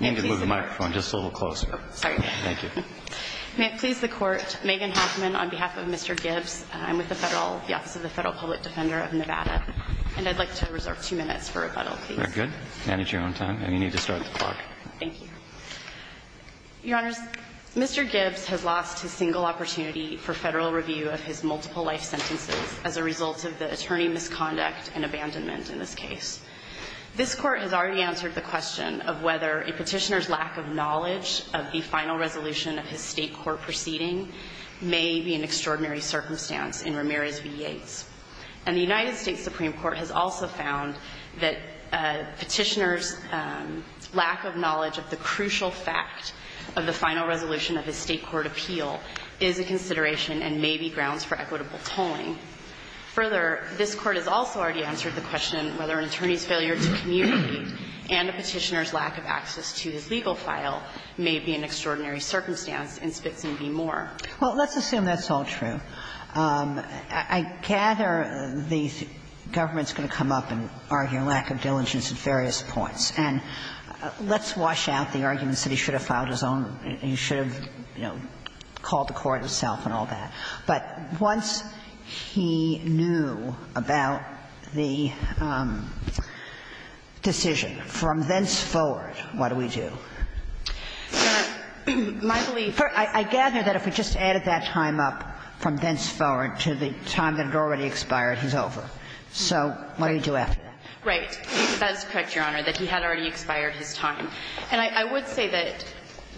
May it please the Court, Megan Hoffman on behalf of Mr. Gibbs. I'm with the Federal, the Office of the Federal Public Defender of Nevada. And I'd like to reserve two minutes for rebuttal, please. Very good. Manage your own time. And you need to start the clock. Thank you. Your Honors, Mr. Gibbs has lost his single opportunity for Federal review of his multiple life sentences as a result of the attorney misconduct and abandonment in this case. This Court has already answered the question of whether a petitioner's lack of knowledge of the final resolution of his state court proceeding may be an extraordinary circumstance in Ramirez v. Yates. And the United States Supreme Court has also found that a petitioner's lack of knowledge of the crucial fact of the final resolution of his state court appeal is a consideration and may be grounds for equitable tolling. Further, this Court has also already answered the question whether an attorney's failure to communicate and a petitioner's lack of access to his legal file may be an extraordinary circumstance in Spitzen v. Moore. Well, let's assume that's all true. I gather the government is going to come up and argue a lack of diligence at various points. And let's wash out the arguments that he should have filed his own – he should have, you know, called the court himself and all that. But once he knew about the decision from thenceforward, what do we do? My belief is that if we just assume that he had already expired his time. And I would say that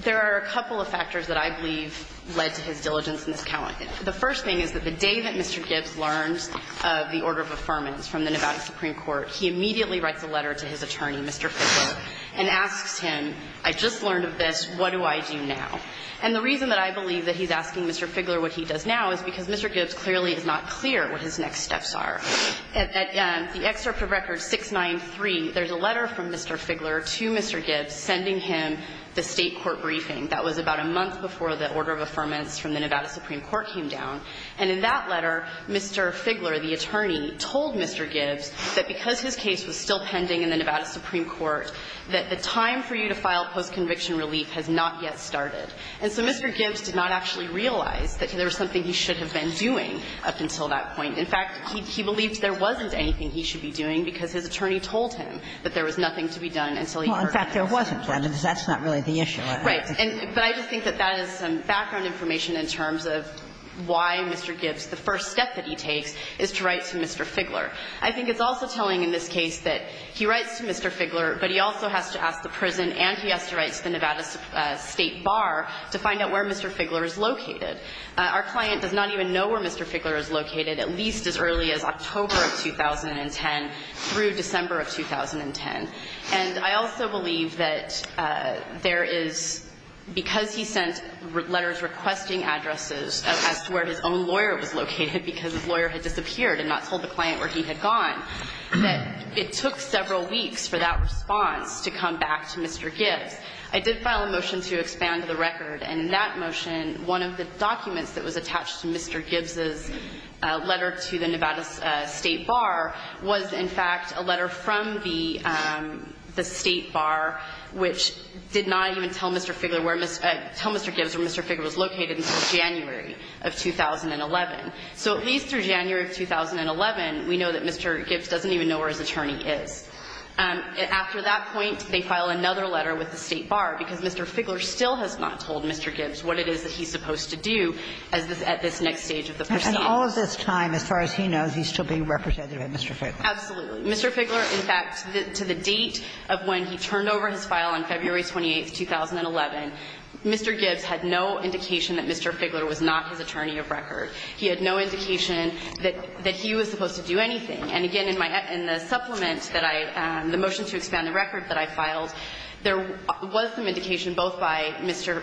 there are a couple of factors that I believe led to his diligence in this count. The first thing is that the day that Mr. Gibbs learns of the order of affirmance from the Nevada Supreme Court, he immediately writes a letter to his attorney, Mr. Fitzgerald, and asks him, I just learned of this. What do I do now? And the reason that I believe that he's asking Mr. Figgler what he does now is because Mr. Gibbs clearly is not clear what his next steps are. At the excerpt of Record 693, there's a letter from Mr. Figgler to Mr. Gibbs sending him the State court briefing. That was about a month before the order of affirmance from the Nevada Supreme Court came down. And in that letter, Mr. Figgler, the attorney, told Mr. Gibbs that because his case was still pending in the Nevada Supreme Court, that the time for you to file postconviction relief has not yet started. And so Mr. Gibbs did not actually realize that there was something he should have been doing up until that point. In fact, he believed there wasn't anything he should be doing because his attorney told him that there was nothing to be done until he heard this. Kagan. Well, in fact, there wasn't. That's not really the issue. Right. But I just think that that is some background information in terms of why Mr. Figgler's case is so important. I think it's also telling in this case that he writes to Mr. Figgler, but he also has to ask the prison and he has to write to the Nevada State Bar to find out where Mr. Figgler is located. Our client does not even know where Mr. Figgler is located, at least as early as October of 2010 through December of 2010. And I also believe that there is, because he sent letters requesting addresses as to where his own lawyer was located because his lawyer had disappeared and not told the client where he had gone, that it took several weeks for that response to come back to Mr. Gibbs. I did file a motion to expand the record. And in that motion, one of the documents that was attached to Mr. Gibbs' letter to the Nevada State Bar was, in fact, a letter from the State Bar, which did not even tell Mr. Figgler where Mr. – tell Mr. Gibbs where Mr. Figgler was located until January of 2011. So at least through January of 2011, we know that Mr. Gibbs doesn't even know where his attorney is. After that point, they file another letter with the State Bar because Mr. Figgler still has not told Mr. Gibbs what it is that he's supposed to do at this next stage of the proceeding. And all of this time, as far as he knows, he's still being represented by Mr. Figgler. Absolutely. Mr. Figgler, in fact, to the date of when he turned over his file on February 28th, 2011, Mr. Gibbs had no indication that Mr. Figgler was not his attorney of record. He had no indication that he was supposed to do anything. And again, in my – in the supplement that I – the motion to expand the record that I filed, there was some indication both by Mr.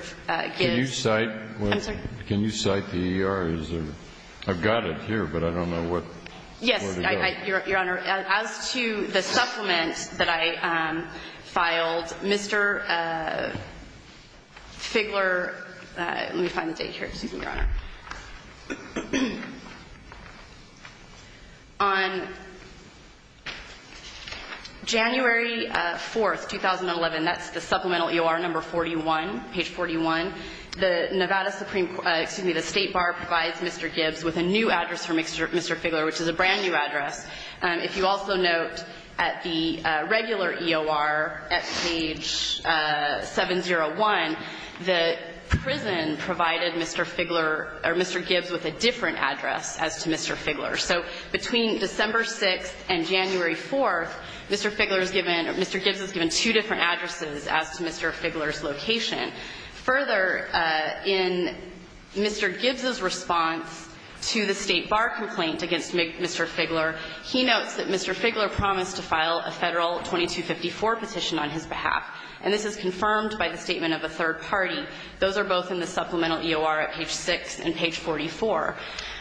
Gibbs – Can you cite – I'm sorry? Can you cite the ER? I've got it here, but I don't know what it is. Your Honor, as to the supplement that I filed, Mr. Figgler – let me find the date here. Excuse me, Your Honor. On January 4th, 2011, that's the supplemental EOR number 41, page 41, the Nevada Supreme – excuse me, the State Bar provides Mr. Gibbs with a new address for Mr. Figgler, which is a brand-new address. If you also note at the regular EOR at page 701, the prison provided Mr. Figgler – or Mr. Gibbs with a different address as to Mr. Figgler. So between December 6th and January 4th, Mr. Figgler is given – Mr. Gibbs is given two different addresses as to Mr. Figgler's location. Further, in Mr. Gibbs's response to the State Bar complaint against Mr. Figgler, he notes that Mr. Figgler promised to file a Federal 2254 petition on his behalf. And this is confirmed by the statement of a third party. Those are both in the supplemental EOR at page 6 and page 44.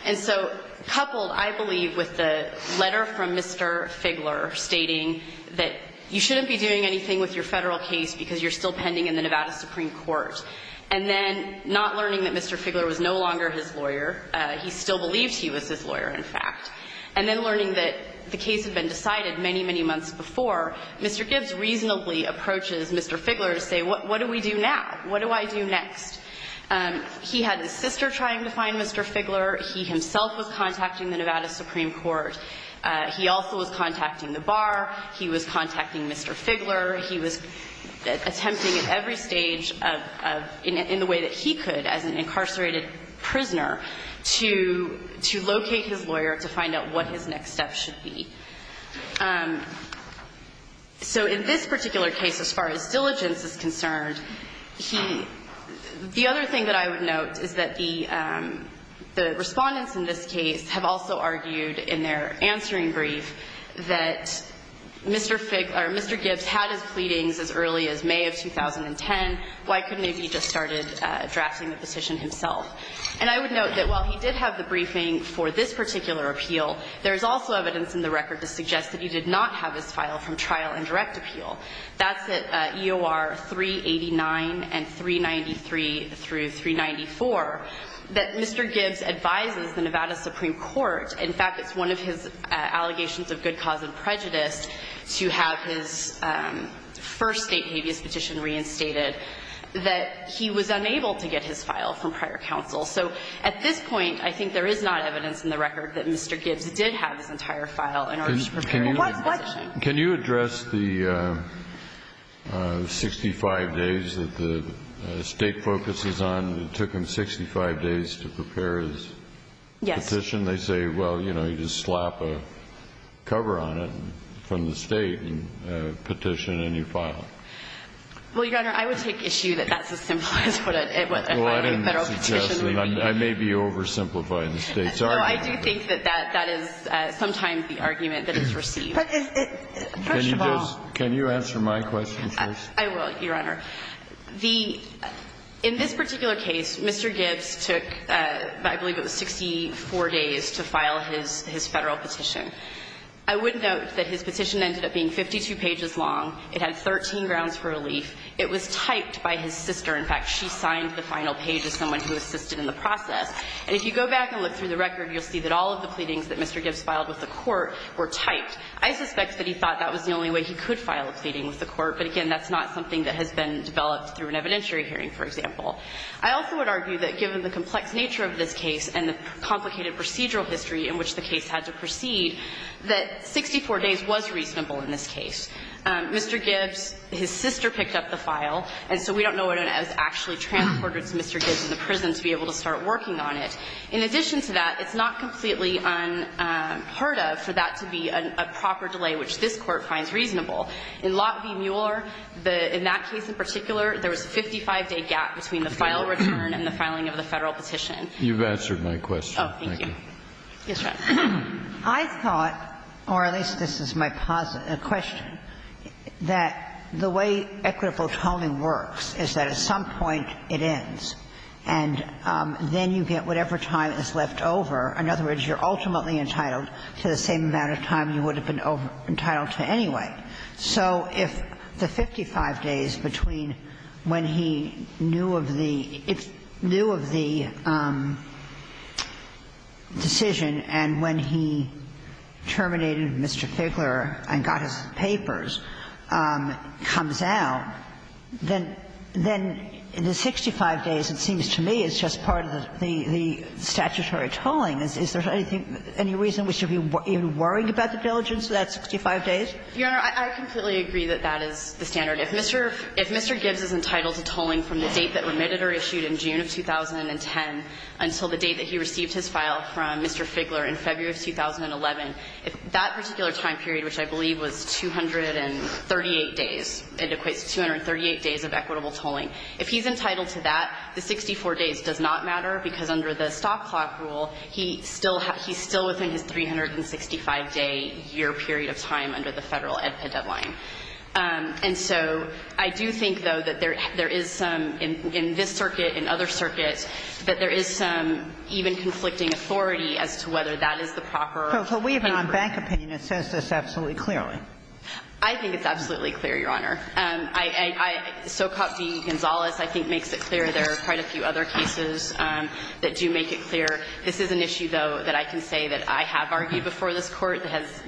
And so coupled, I believe, with the letter from Mr. Figgler stating that you shouldn't be doing anything with your Federal case because you're still pending in the Nevada Supreme Court, and then not learning that Mr. Figgler was no longer his lawyer – he still believed he was his lawyer, in fact – and then learning that the case had been decided many, many months before, Mr. Gibbs reasonably approaches Mr. Figgler to say, what do we do now? What do I do next? He had his sister trying to find Mr. Figgler. He himself was contacting the Nevada Supreme Court. He also was contacting the Bar. He was contacting Mr. Figgler. He was attempting at every stage of – in the way that he could, as an incarcerated prisoner, to locate his lawyer to find out what his next step should be. So in this particular case, as far as diligence is concerned, he – the other thing that I would note is that the Respondents in this case have also argued in their answering brief that Mr. Figgler – or Mr. Gibbs had his lawyer, Mr. Gibbs had his pleadings as early as May of 2010. Why couldn't he have just started drafting the petition himself? And I would note that while he did have the briefing for this particular appeal, there is also evidence in the record to suggest that he did not have his file from trial and direct appeal. That's at EOR 389 and 393 through 394, that Mr. Gibbs advises the Nevada Supreme Court – in fact, it's one of his first state habeas petition reinstated – that he was unable to get his file from prior counsel. So at this point, I think there is not evidence in the record that Mr. Gibbs did have his entire file in order to prepare his petition. Kennedy. Can you address the 65 days that the State focuses on? It took him 65 days to prepare his petition. Yes. And when you file a petition, they say, well, you know, you just slap a cover on it from the State and petition, and you file it. Well, Your Honor, I would take issue that that's as simple as what a federal petition would be. Well, I didn't suggest that. I may be oversimplifying the State's argument. No, I do think that that is sometimes the argument that is received. First of all – Can you just – can you answer my question first? I will, Your Honor. The – in this particular case, Mr. Gibbs took, I believe it was 64 days to file his – his federal petition. I would note that his petition ended up being 52 pages long. It had 13 grounds for relief. It was typed by his sister. In fact, she signed the final page as someone who assisted in the process. And if you go back and look through the record, you'll see that all of the pleadings that Mr. Gibbs filed with the Court were typed. I suspect that he thought that was the only way he could file a pleading with the Court, but, again, that's not something that has been developed through an evidentiary hearing, for example. I also would argue that given the complex nature of this case and the complicated procedural history in which the case had to proceed, that 64 days was reasonable in this case. Mr. Gibbs, his sister picked up the file, and so we don't know whether it was actually transported to Mr. Gibbs in the prison to be able to start working on it. In addition to that, it's not completely unheard of for that to be a proper delay, which this Court finds reasonable. In Lot v. Mueller, in that case in particular, there was a 55-day gap between the file return and the filing of the Federal petition. You've answered my question. Oh, thank you. Yes, ma'am. I thought, or at least this is my question, that the way equitable toning works is that at some point it ends, and then you get whatever time is left over. In other words, you're ultimately entitled to the same amount of time you would have been entitled to anyway. So if the 55 days between when he knew of the decision and when he terminated Mr. Figler and got his papers comes out, then the 65 days, it seems to me, is just part of the statutory tolling. Is there any reason we should be even worrying about the diligence of that 65 days? Your Honor, I completely agree that that is the standard. If Mr. Gibbs is entitled to tolling from the date that remitted or issued in June of 2010 until the date that he received his file from Mr. Figler in February of 2011, if that particular time period, which I believe was 238 days, it equates to 238 days of equitable tolling. If he's entitled to that, the 64 days does not matter, because under the stop clock rule, he still has he's still within his 365-day year period of time under the Federal EDPA deadline. And so I do think, though, that there is some in this circuit, in other circuits, that there is some even conflicting authority as to whether that is the proper paper. So we have an on-bank opinion that says this absolutely clearly. I think it's absolutely clear, Your Honor. Socop D. Gonzalez, I think, makes it clear. There are quite a few other cases that do make it clear. This is an issue, though, that I can say that I have argued before this Court.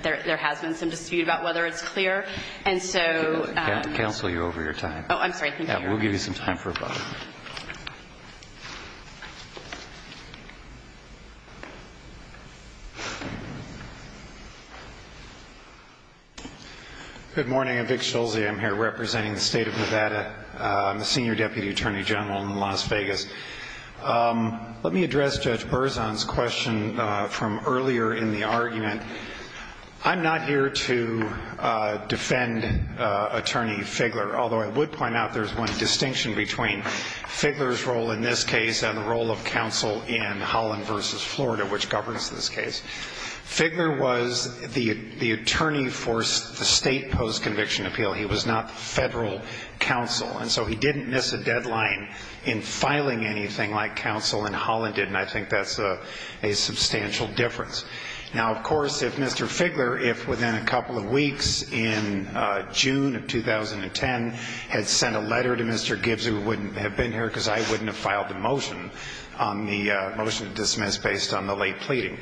There has been some dispute about whether it's clear. And so ---- We will counsel you over your time. Oh, I'm sorry. Thank you, Your Honor. We'll give you some time for a vote. I'm Vic Schulze. I'm here representing the State of Nevada. I'm a senior deputy attorney general in Las Vegas. Let me address Judge Berzon's question from earlier in the argument. I'm not here to defend Attorney Figler, although I would point out there's one distinction between Figler's role in this case and the role of counsel in Holland v. Florida, which governs this case. Figler was the attorney for the state post-conviction appeal. He was not federal counsel. And so he didn't miss a deadline in filing anything like counsel in Holland did, and I think that's a substantial difference. Now, of course, if Mr. Figler, if within a couple of weeks, in June of 2010, had sent a letter to Mr. Gibbs, who wouldn't have been here because I wouldn't have filed the motion to dismiss based on the late pleading.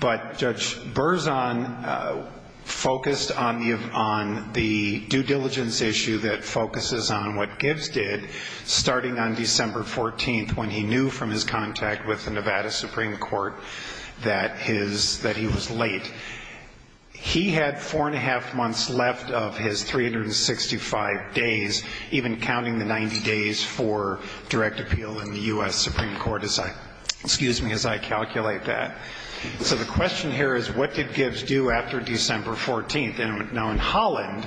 But Judge Berzon focused on the due diligence issue that focuses on what Gibbs did starting on December 14th when he knew from his contact with the Nevada Supreme Court that he was late. He had four and a half months left of his 365 days, even counting the 90 days for direct appeal in the U.S. Supreme Court, excuse me, as I calculate that. So the question here is, what did Gibbs do after December 14th? Now, in Holland,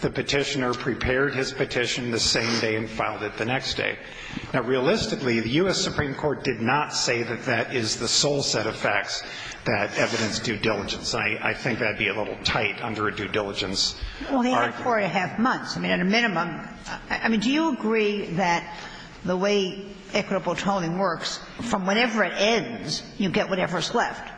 the Petitioner prepared his petition the same day and filed it the next day. Now, realistically, the U.S. Supreme Court did not say that that is the sole set of facts that evidenced due diligence. I think that would be a little tight under a due diligence argument. I mean, he had four and a half months. I mean, at a minimum. I mean, do you agree that the way equitable tolling works, from whenever it ends, you get whatever's left?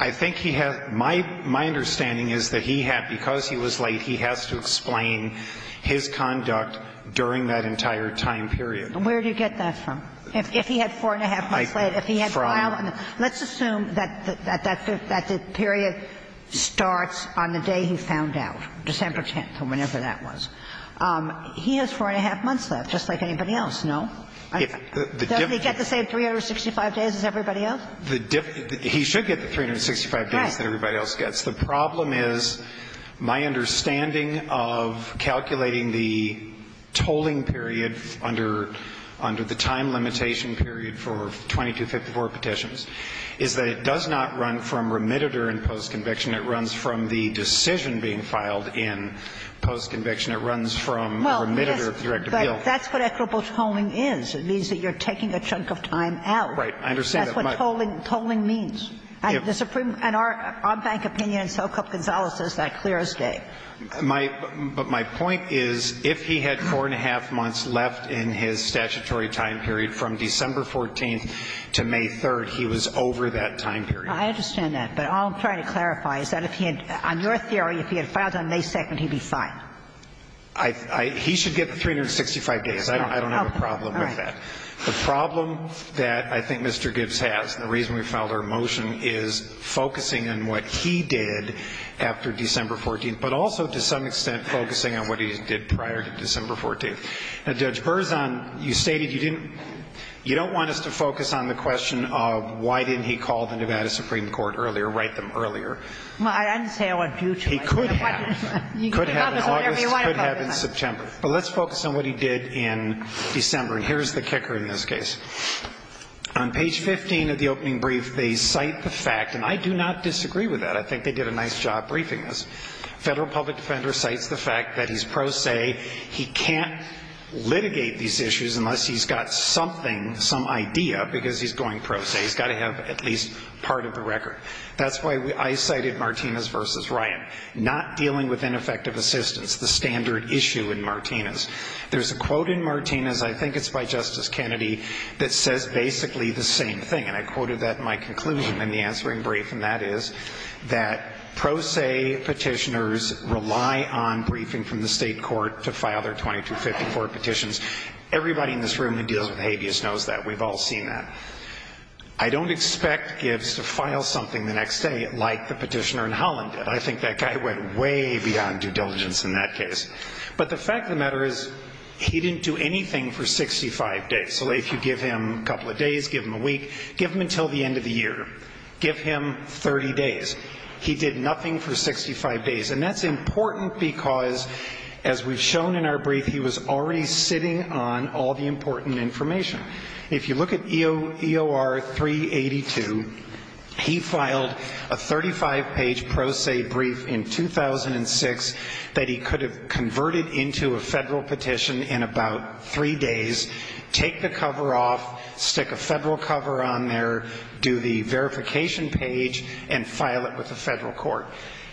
I think he had my understanding is that he had, because he was late, he has to explain his conduct during that entire time period. And where do you get that from? If he had four and a half months left, if he had filed? Let's assume that the period starts on the day he found out, December 10th, or whenever that was. He has four and a half months left, just like anybody else, no? Doesn't he get the same 365 days as everybody else? He should get the 365 days that everybody else gets. The problem is, my understanding of calculating the tolling period under the time limitation period for 2254 petitions, is that it does not run from remitted or in postconviction, it runs from the decision being filed in postconviction. It runs from remitted or direct appeal. Well, yes, but that's what equitable tolling is. It means that you're taking a chunk of time out. Right. I understand that. That's what tolling means. And the Supreme – and our bank opinion in SoCoke-Gonzalez says that clear as day. My – but my point is, if he had four and a half months left in his statutory time period from December 14th to May 3rd, he was over that time period. I understand that. But all I'm trying to clarify is that if he had – on your theory, if he had filed on May 2nd, he'd be fine. I – he should get the 365 days. I don't have a problem with that. The problem that I think Mr. Gibbs has, and the reason we filed our motion, is focusing on what he did after December 14th, but also, to some extent, focusing on what he did prior to December 14th. Now, Judge Berzon, you stated you didn't – you don't want us to focus on the question of why didn't he call the Nevada Supreme Court earlier, write them earlier. Well, I didn't say I want you to write them. He could have. You can tell us whatever you want about that. He could have in August. He could have in September. But let's focus on what he did in December, and here's the kicker in this case. On page 15 of the opening brief, they cite the fact – and I do not disagree with that. I think they did a nice job briefing this. Federal public defender cites the fact that he's pro se. He can't litigate these issues unless he's got something, some idea, because he's going pro se. He's got to have at least part of the record. That's why I cited Martinez v. Ryan, not dealing with ineffective assistance, the standard issue in Martinez. There's a quote in Martinez, I think it's by Justice Kennedy, that says basically the same thing, and I quoted that in my conclusion in the answering brief, and that is that pro se petitioners rely on briefing from the state court to file their 2254 petitions. Everybody in this room who deals with habeas knows that. We've all seen that. I don't expect Gibbs to file something the next day like the petitioner in Holland did. I think that guy went way beyond due diligence in that case. But the fact of the matter is, he didn't do anything for 65 days, so if you give him a couple of days, give him a week, give him until the end of the year. Give him 30 days. He did nothing for 65 days, and that's important because, as we've shown in our brief, he was already sitting on all the important information. If you look at EOR 382, he filed a 35-page pro se brief in 2006 that he could have converted into a Federal petition in about three days, take the cover off, stick a Federal cover on there, do the verification page, and file it with the Federal court.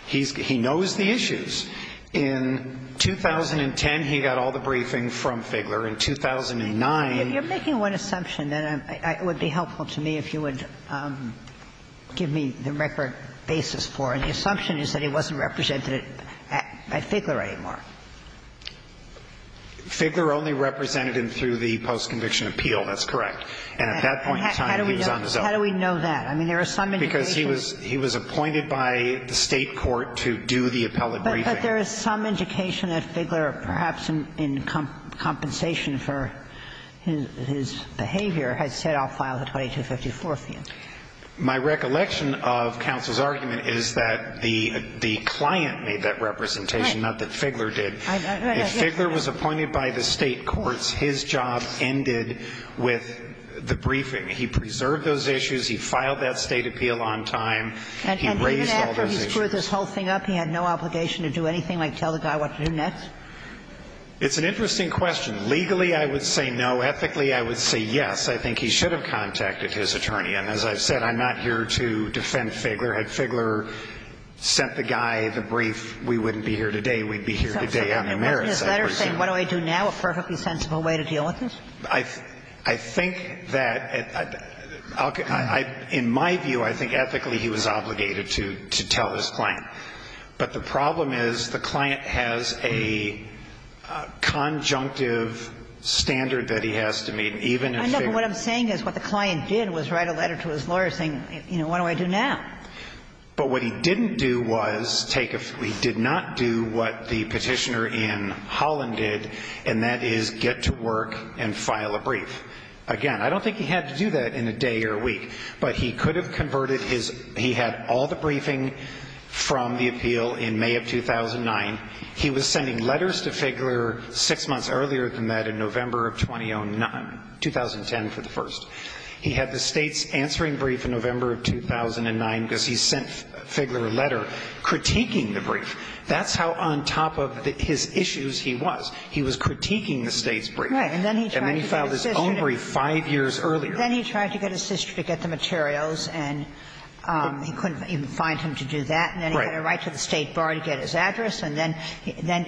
He knows the issues. In 2010, he got all the briefing from Figgler. In 2009 he was not represented at Figgler anymore. He was appointed by the State court to do the appellate briefing. If you're making one assumption, it would be helpful to me if you would give me the record basis for it. The assumption is that he wasn't represented at Figgler anymore. Figgler only represented him through the post-conviction appeal. That's correct. And at that point in time, he was on his own. How do we know that? I mean, there are some indications. Because he was appointed by the State court to do the appellate briefing. But there is some indication that Figgler, perhaps in compensation for his behavior, had said, I'll file the 2254 fee. My recollection of counsel's argument is that the client made that representation, not that Figgler did. If Figgler was appointed by the State courts, his job ended with the briefing. He preserved those issues. He filed that State appeal on time. He raised all those issues. But he didn't screw this whole thing up. He had no obligation to do anything like tell the guy what to do next? It's an interesting question. Legally, I would say no. Ethically, I would say yes. I think he should have contacted his attorney. And as I've said, I'm not here to defend Figgler. Had Figgler sent the guy the brief, we wouldn't be here today. We'd be here today on the merits, I presume. So he wasn't in his letter saying, what do I do now? A perfectly sensible way to deal with this? I think that, in my view, I think ethically he was obligated to tell his client. But the problem is the client has a conjunctive standard that he has to meet, even if Figgler was appointed. I know, but what I'm saying is what the client did was write a letter to his lawyer saying, you know, what do I do now? But what he didn't do was take a few – he did not do what the Petitioner in Holland did, and that is get to work and file a brief. Again, I don't think he had to do that in a day or a week. But he could have converted his – he had all the briefing from the appeal in May of 2009. He was sending letters to Figgler six months earlier than that in November of 2010 for the first. He had the state's answering brief in November of 2009 because he sent Figgler a letter critiquing the brief. That's how on top of his issues he was. He was critiquing the state's brief. And then he filed his own brief five years earlier. Then he tried to get his sister to get the materials, and he couldn't even find him to do that. Right. And then he had a right to the State Bar to get his address, and then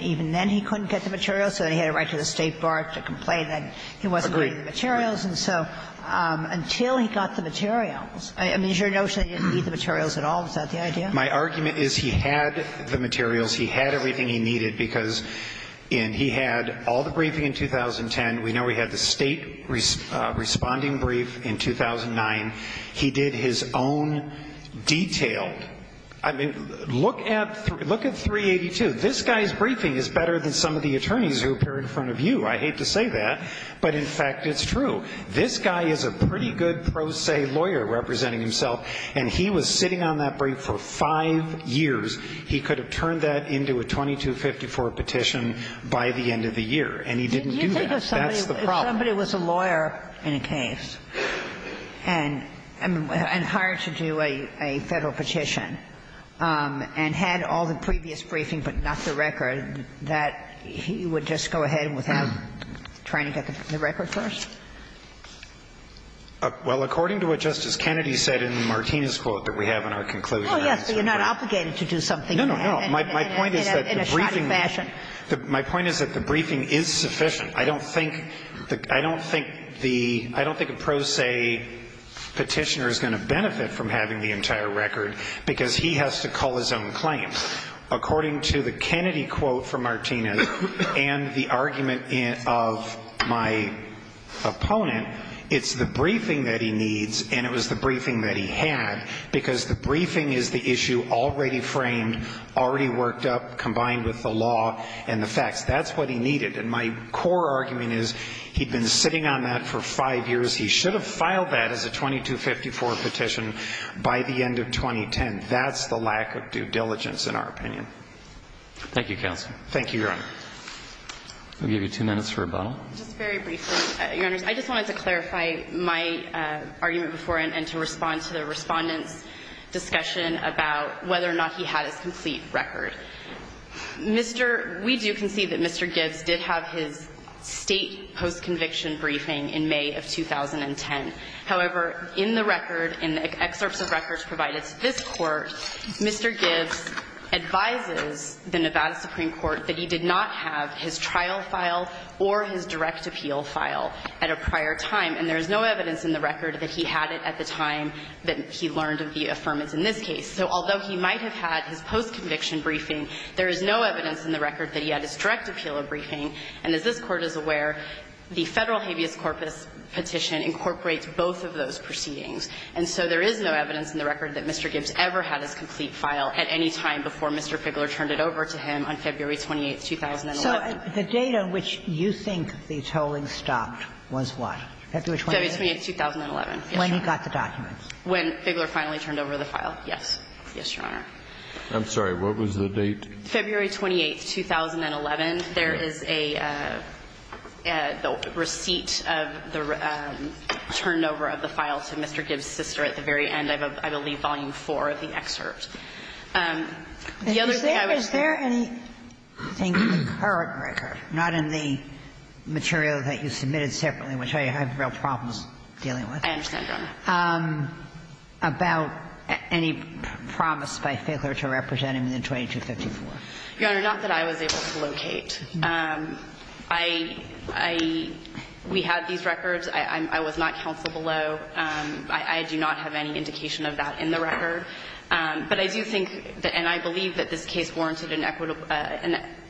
even then he couldn't get the materials, so he had a right to the State Bar to complain that he wasn't getting the materials. Agreed. And so until he got the materials – I mean, is your notion that he didn't need the materials at all? Is that the idea? My argument is he had the materials. He had everything he needed because – and he had all the briefing in 2010. We know he had the state responding brief in 2009. He did his own detailed – I mean, look at 382. This guy's briefing is better than some of the attorneys who appear in front of you. I hate to say that, but in fact it's true. This guy is a pretty good pro se lawyer representing himself, and he was sitting on that brief for five years. He could have turned that into a 2254 petition by the end of the year, and he didn't do that. That's the problem. Did you think if somebody was a lawyer in a case and hired to do a Federal petition and had all the previous briefing but not the record, that he would just go ahead without trying to get the record first? Well, according to what Justice Kennedy said in the Martinez quote that we have in our conclusion, that's the point. Oh, yes, but you're not obligated to do something. No, no, no. My point is that the briefing – In a shoddy fashion. My point is that the briefing is sufficient. I don't think – I don't think the – I don't think a pro se petitioner is going to benefit from having the entire record because he has to call his own claim. According to the Kennedy quote from Martinez and the argument of my opponent, it's the briefing that he needs and it was the briefing that he had because the briefing is the issue already framed, already worked up, combined with the law and the facts. That's what he needed. And my core argument is he'd been sitting on that for five years. He should have filed that as a 2254 petition by the end of 2010. And that's the lack of due diligence in our opinion. Thank you, Counsel. Thank you, Your Honor. We'll give you two minutes for rebuttal. Just very briefly, Your Honors, I just wanted to clarify my argument before and to respond to the Respondent's discussion about whether or not he had his complete record. Mr. – we do concede that Mr. Gibbs did have his state post-conviction briefing in May of 2010. However, in the record, in the excerpts of records provided to this Court, Mr. Gibbs advises the Nevada Supreme Court that he did not have his trial file or his direct appeal file at a prior time. And there is no evidence in the record that he had it at the time that he learned of the affirmance in this case. So although he might have had his post-conviction briefing, there is no evidence in the record that he had his direct appeal briefing. And as this Court is aware, the Federal habeas corpus petition incorporates both of those proceedings. And so there is no evidence in the record that Mr. Gibbs ever had his complete file at any time before Mr. Figgler turned it over to him on February 28, 2011. So the date on which you think the tolling stopped was what? February 28, 2011. When he got the documents. When Figgler finally turned over the file. Yes. Yes, Your Honor. I'm sorry. What was the date? February 28, 2011. There is a receipt of the turnover of the file to Mr. Gibbs' sister at the very end of, I believe, volume four of the excerpt. The other thing I would say is. Is there anything in the current record, not in the material that you submitted separately, which I have real problems dealing with. I understand, Your Honor. About any promise by Figgler to represent him in the 2254. Your Honor, not that I was able to locate. I, we had these records. I was not counsel below. I do not have any indication of that in the record. But I do think, and I believe that this case warranted an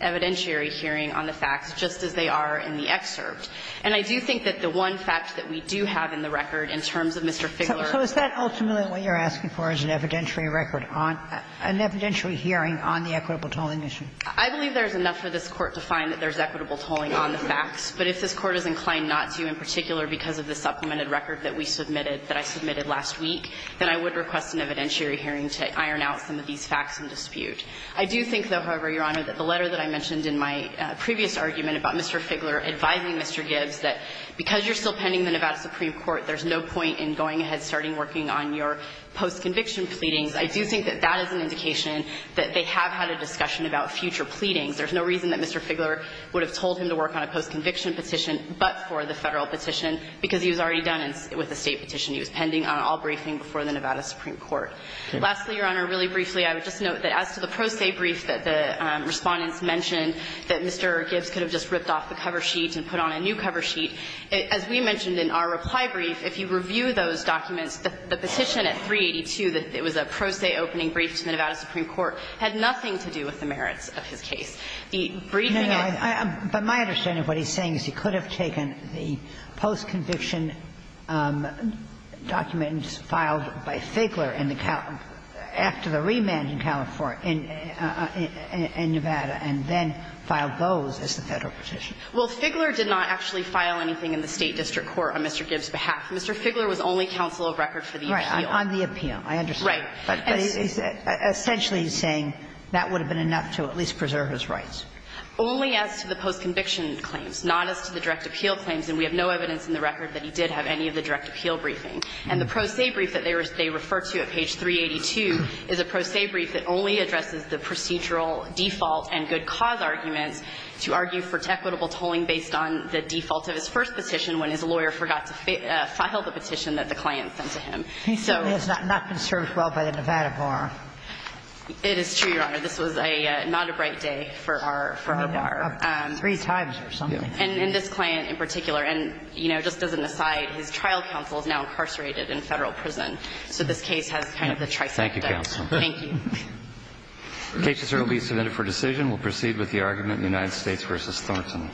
evidentiary hearing on the facts, just as they are in the excerpt. And I do think that the one fact that we do have in the record in terms of Mr. Figgler. So is that ultimately what you're asking for is an evidentiary record, an evidentiary hearing on the equitable tolling issue? I believe there's enough for this Court to find that there's equitable tolling on the facts. But if this Court is inclined not to, in particular because of the supplemented record that we submitted, that I submitted last week, then I would request an evidentiary hearing to iron out some of these facts in dispute. I do think, though, however, Your Honor, that the letter that I mentioned in my previous argument about Mr. Figgler advising Mr. Gibbs that because you're still pending the Nevada Supreme Court, there's no point in going ahead and starting working on your post-conviction pleadings. I do think that that is an indication that they have had a discussion about future pleadings. There's no reason that Mr. Figgler would have told him to work on a post-conviction petition but for the Federal petition because he was already done with the State petition. He was pending on all briefing before the Nevada Supreme Court. Lastly, Your Honor, really briefly, I would just note that as to the pro se brief that the Respondents mentioned, that Mr. Gibbs could have just ripped off the cover sheet and put on a new cover sheet. As we mentioned in our reply brief, if you review those documents, the petition at 382, it was a pro se opening brief to the Nevada Supreme Court, had nothing to do with the merits of his case. The briefing at 382. But my understanding of what he's saying is he could have taken the post-conviction documents filed by Figgler after the remand in California, in Nevada, and then filed those as the Federal petition. Well, Figgler did not actually file anything in the State district court on Mr. Gibbs' behalf. Mr. Figgler was only counsel of record for the U.P.O. On the appeal, I understand. Right. But essentially he's saying that would have been enough to at least preserve his rights. Only as to the post-conviction claims, not as to the direct appeal claims, and we have no evidence in the record that he did have any of the direct appeal briefing. And the pro se brief that they refer to at page 382 is a pro se brief that only addresses the procedural default and good cause arguments to argue for equitable tolling based on the default of his first petition when his lawyer forgot to file the petition that the client sent to him. He certainly has not been served well by the Nevada bar. It is true, Your Honor. This was not a bright day for our bar. Three times or something. And this client in particular. And, you know, just as an aside, his trial counsel is now incarcerated in a Federal prison. So this case has kind of the tricep dip. Thank you, Counsel. Thank you. The case is currently submitted for decision. We'll proceed with the argument in United States v. Thornton.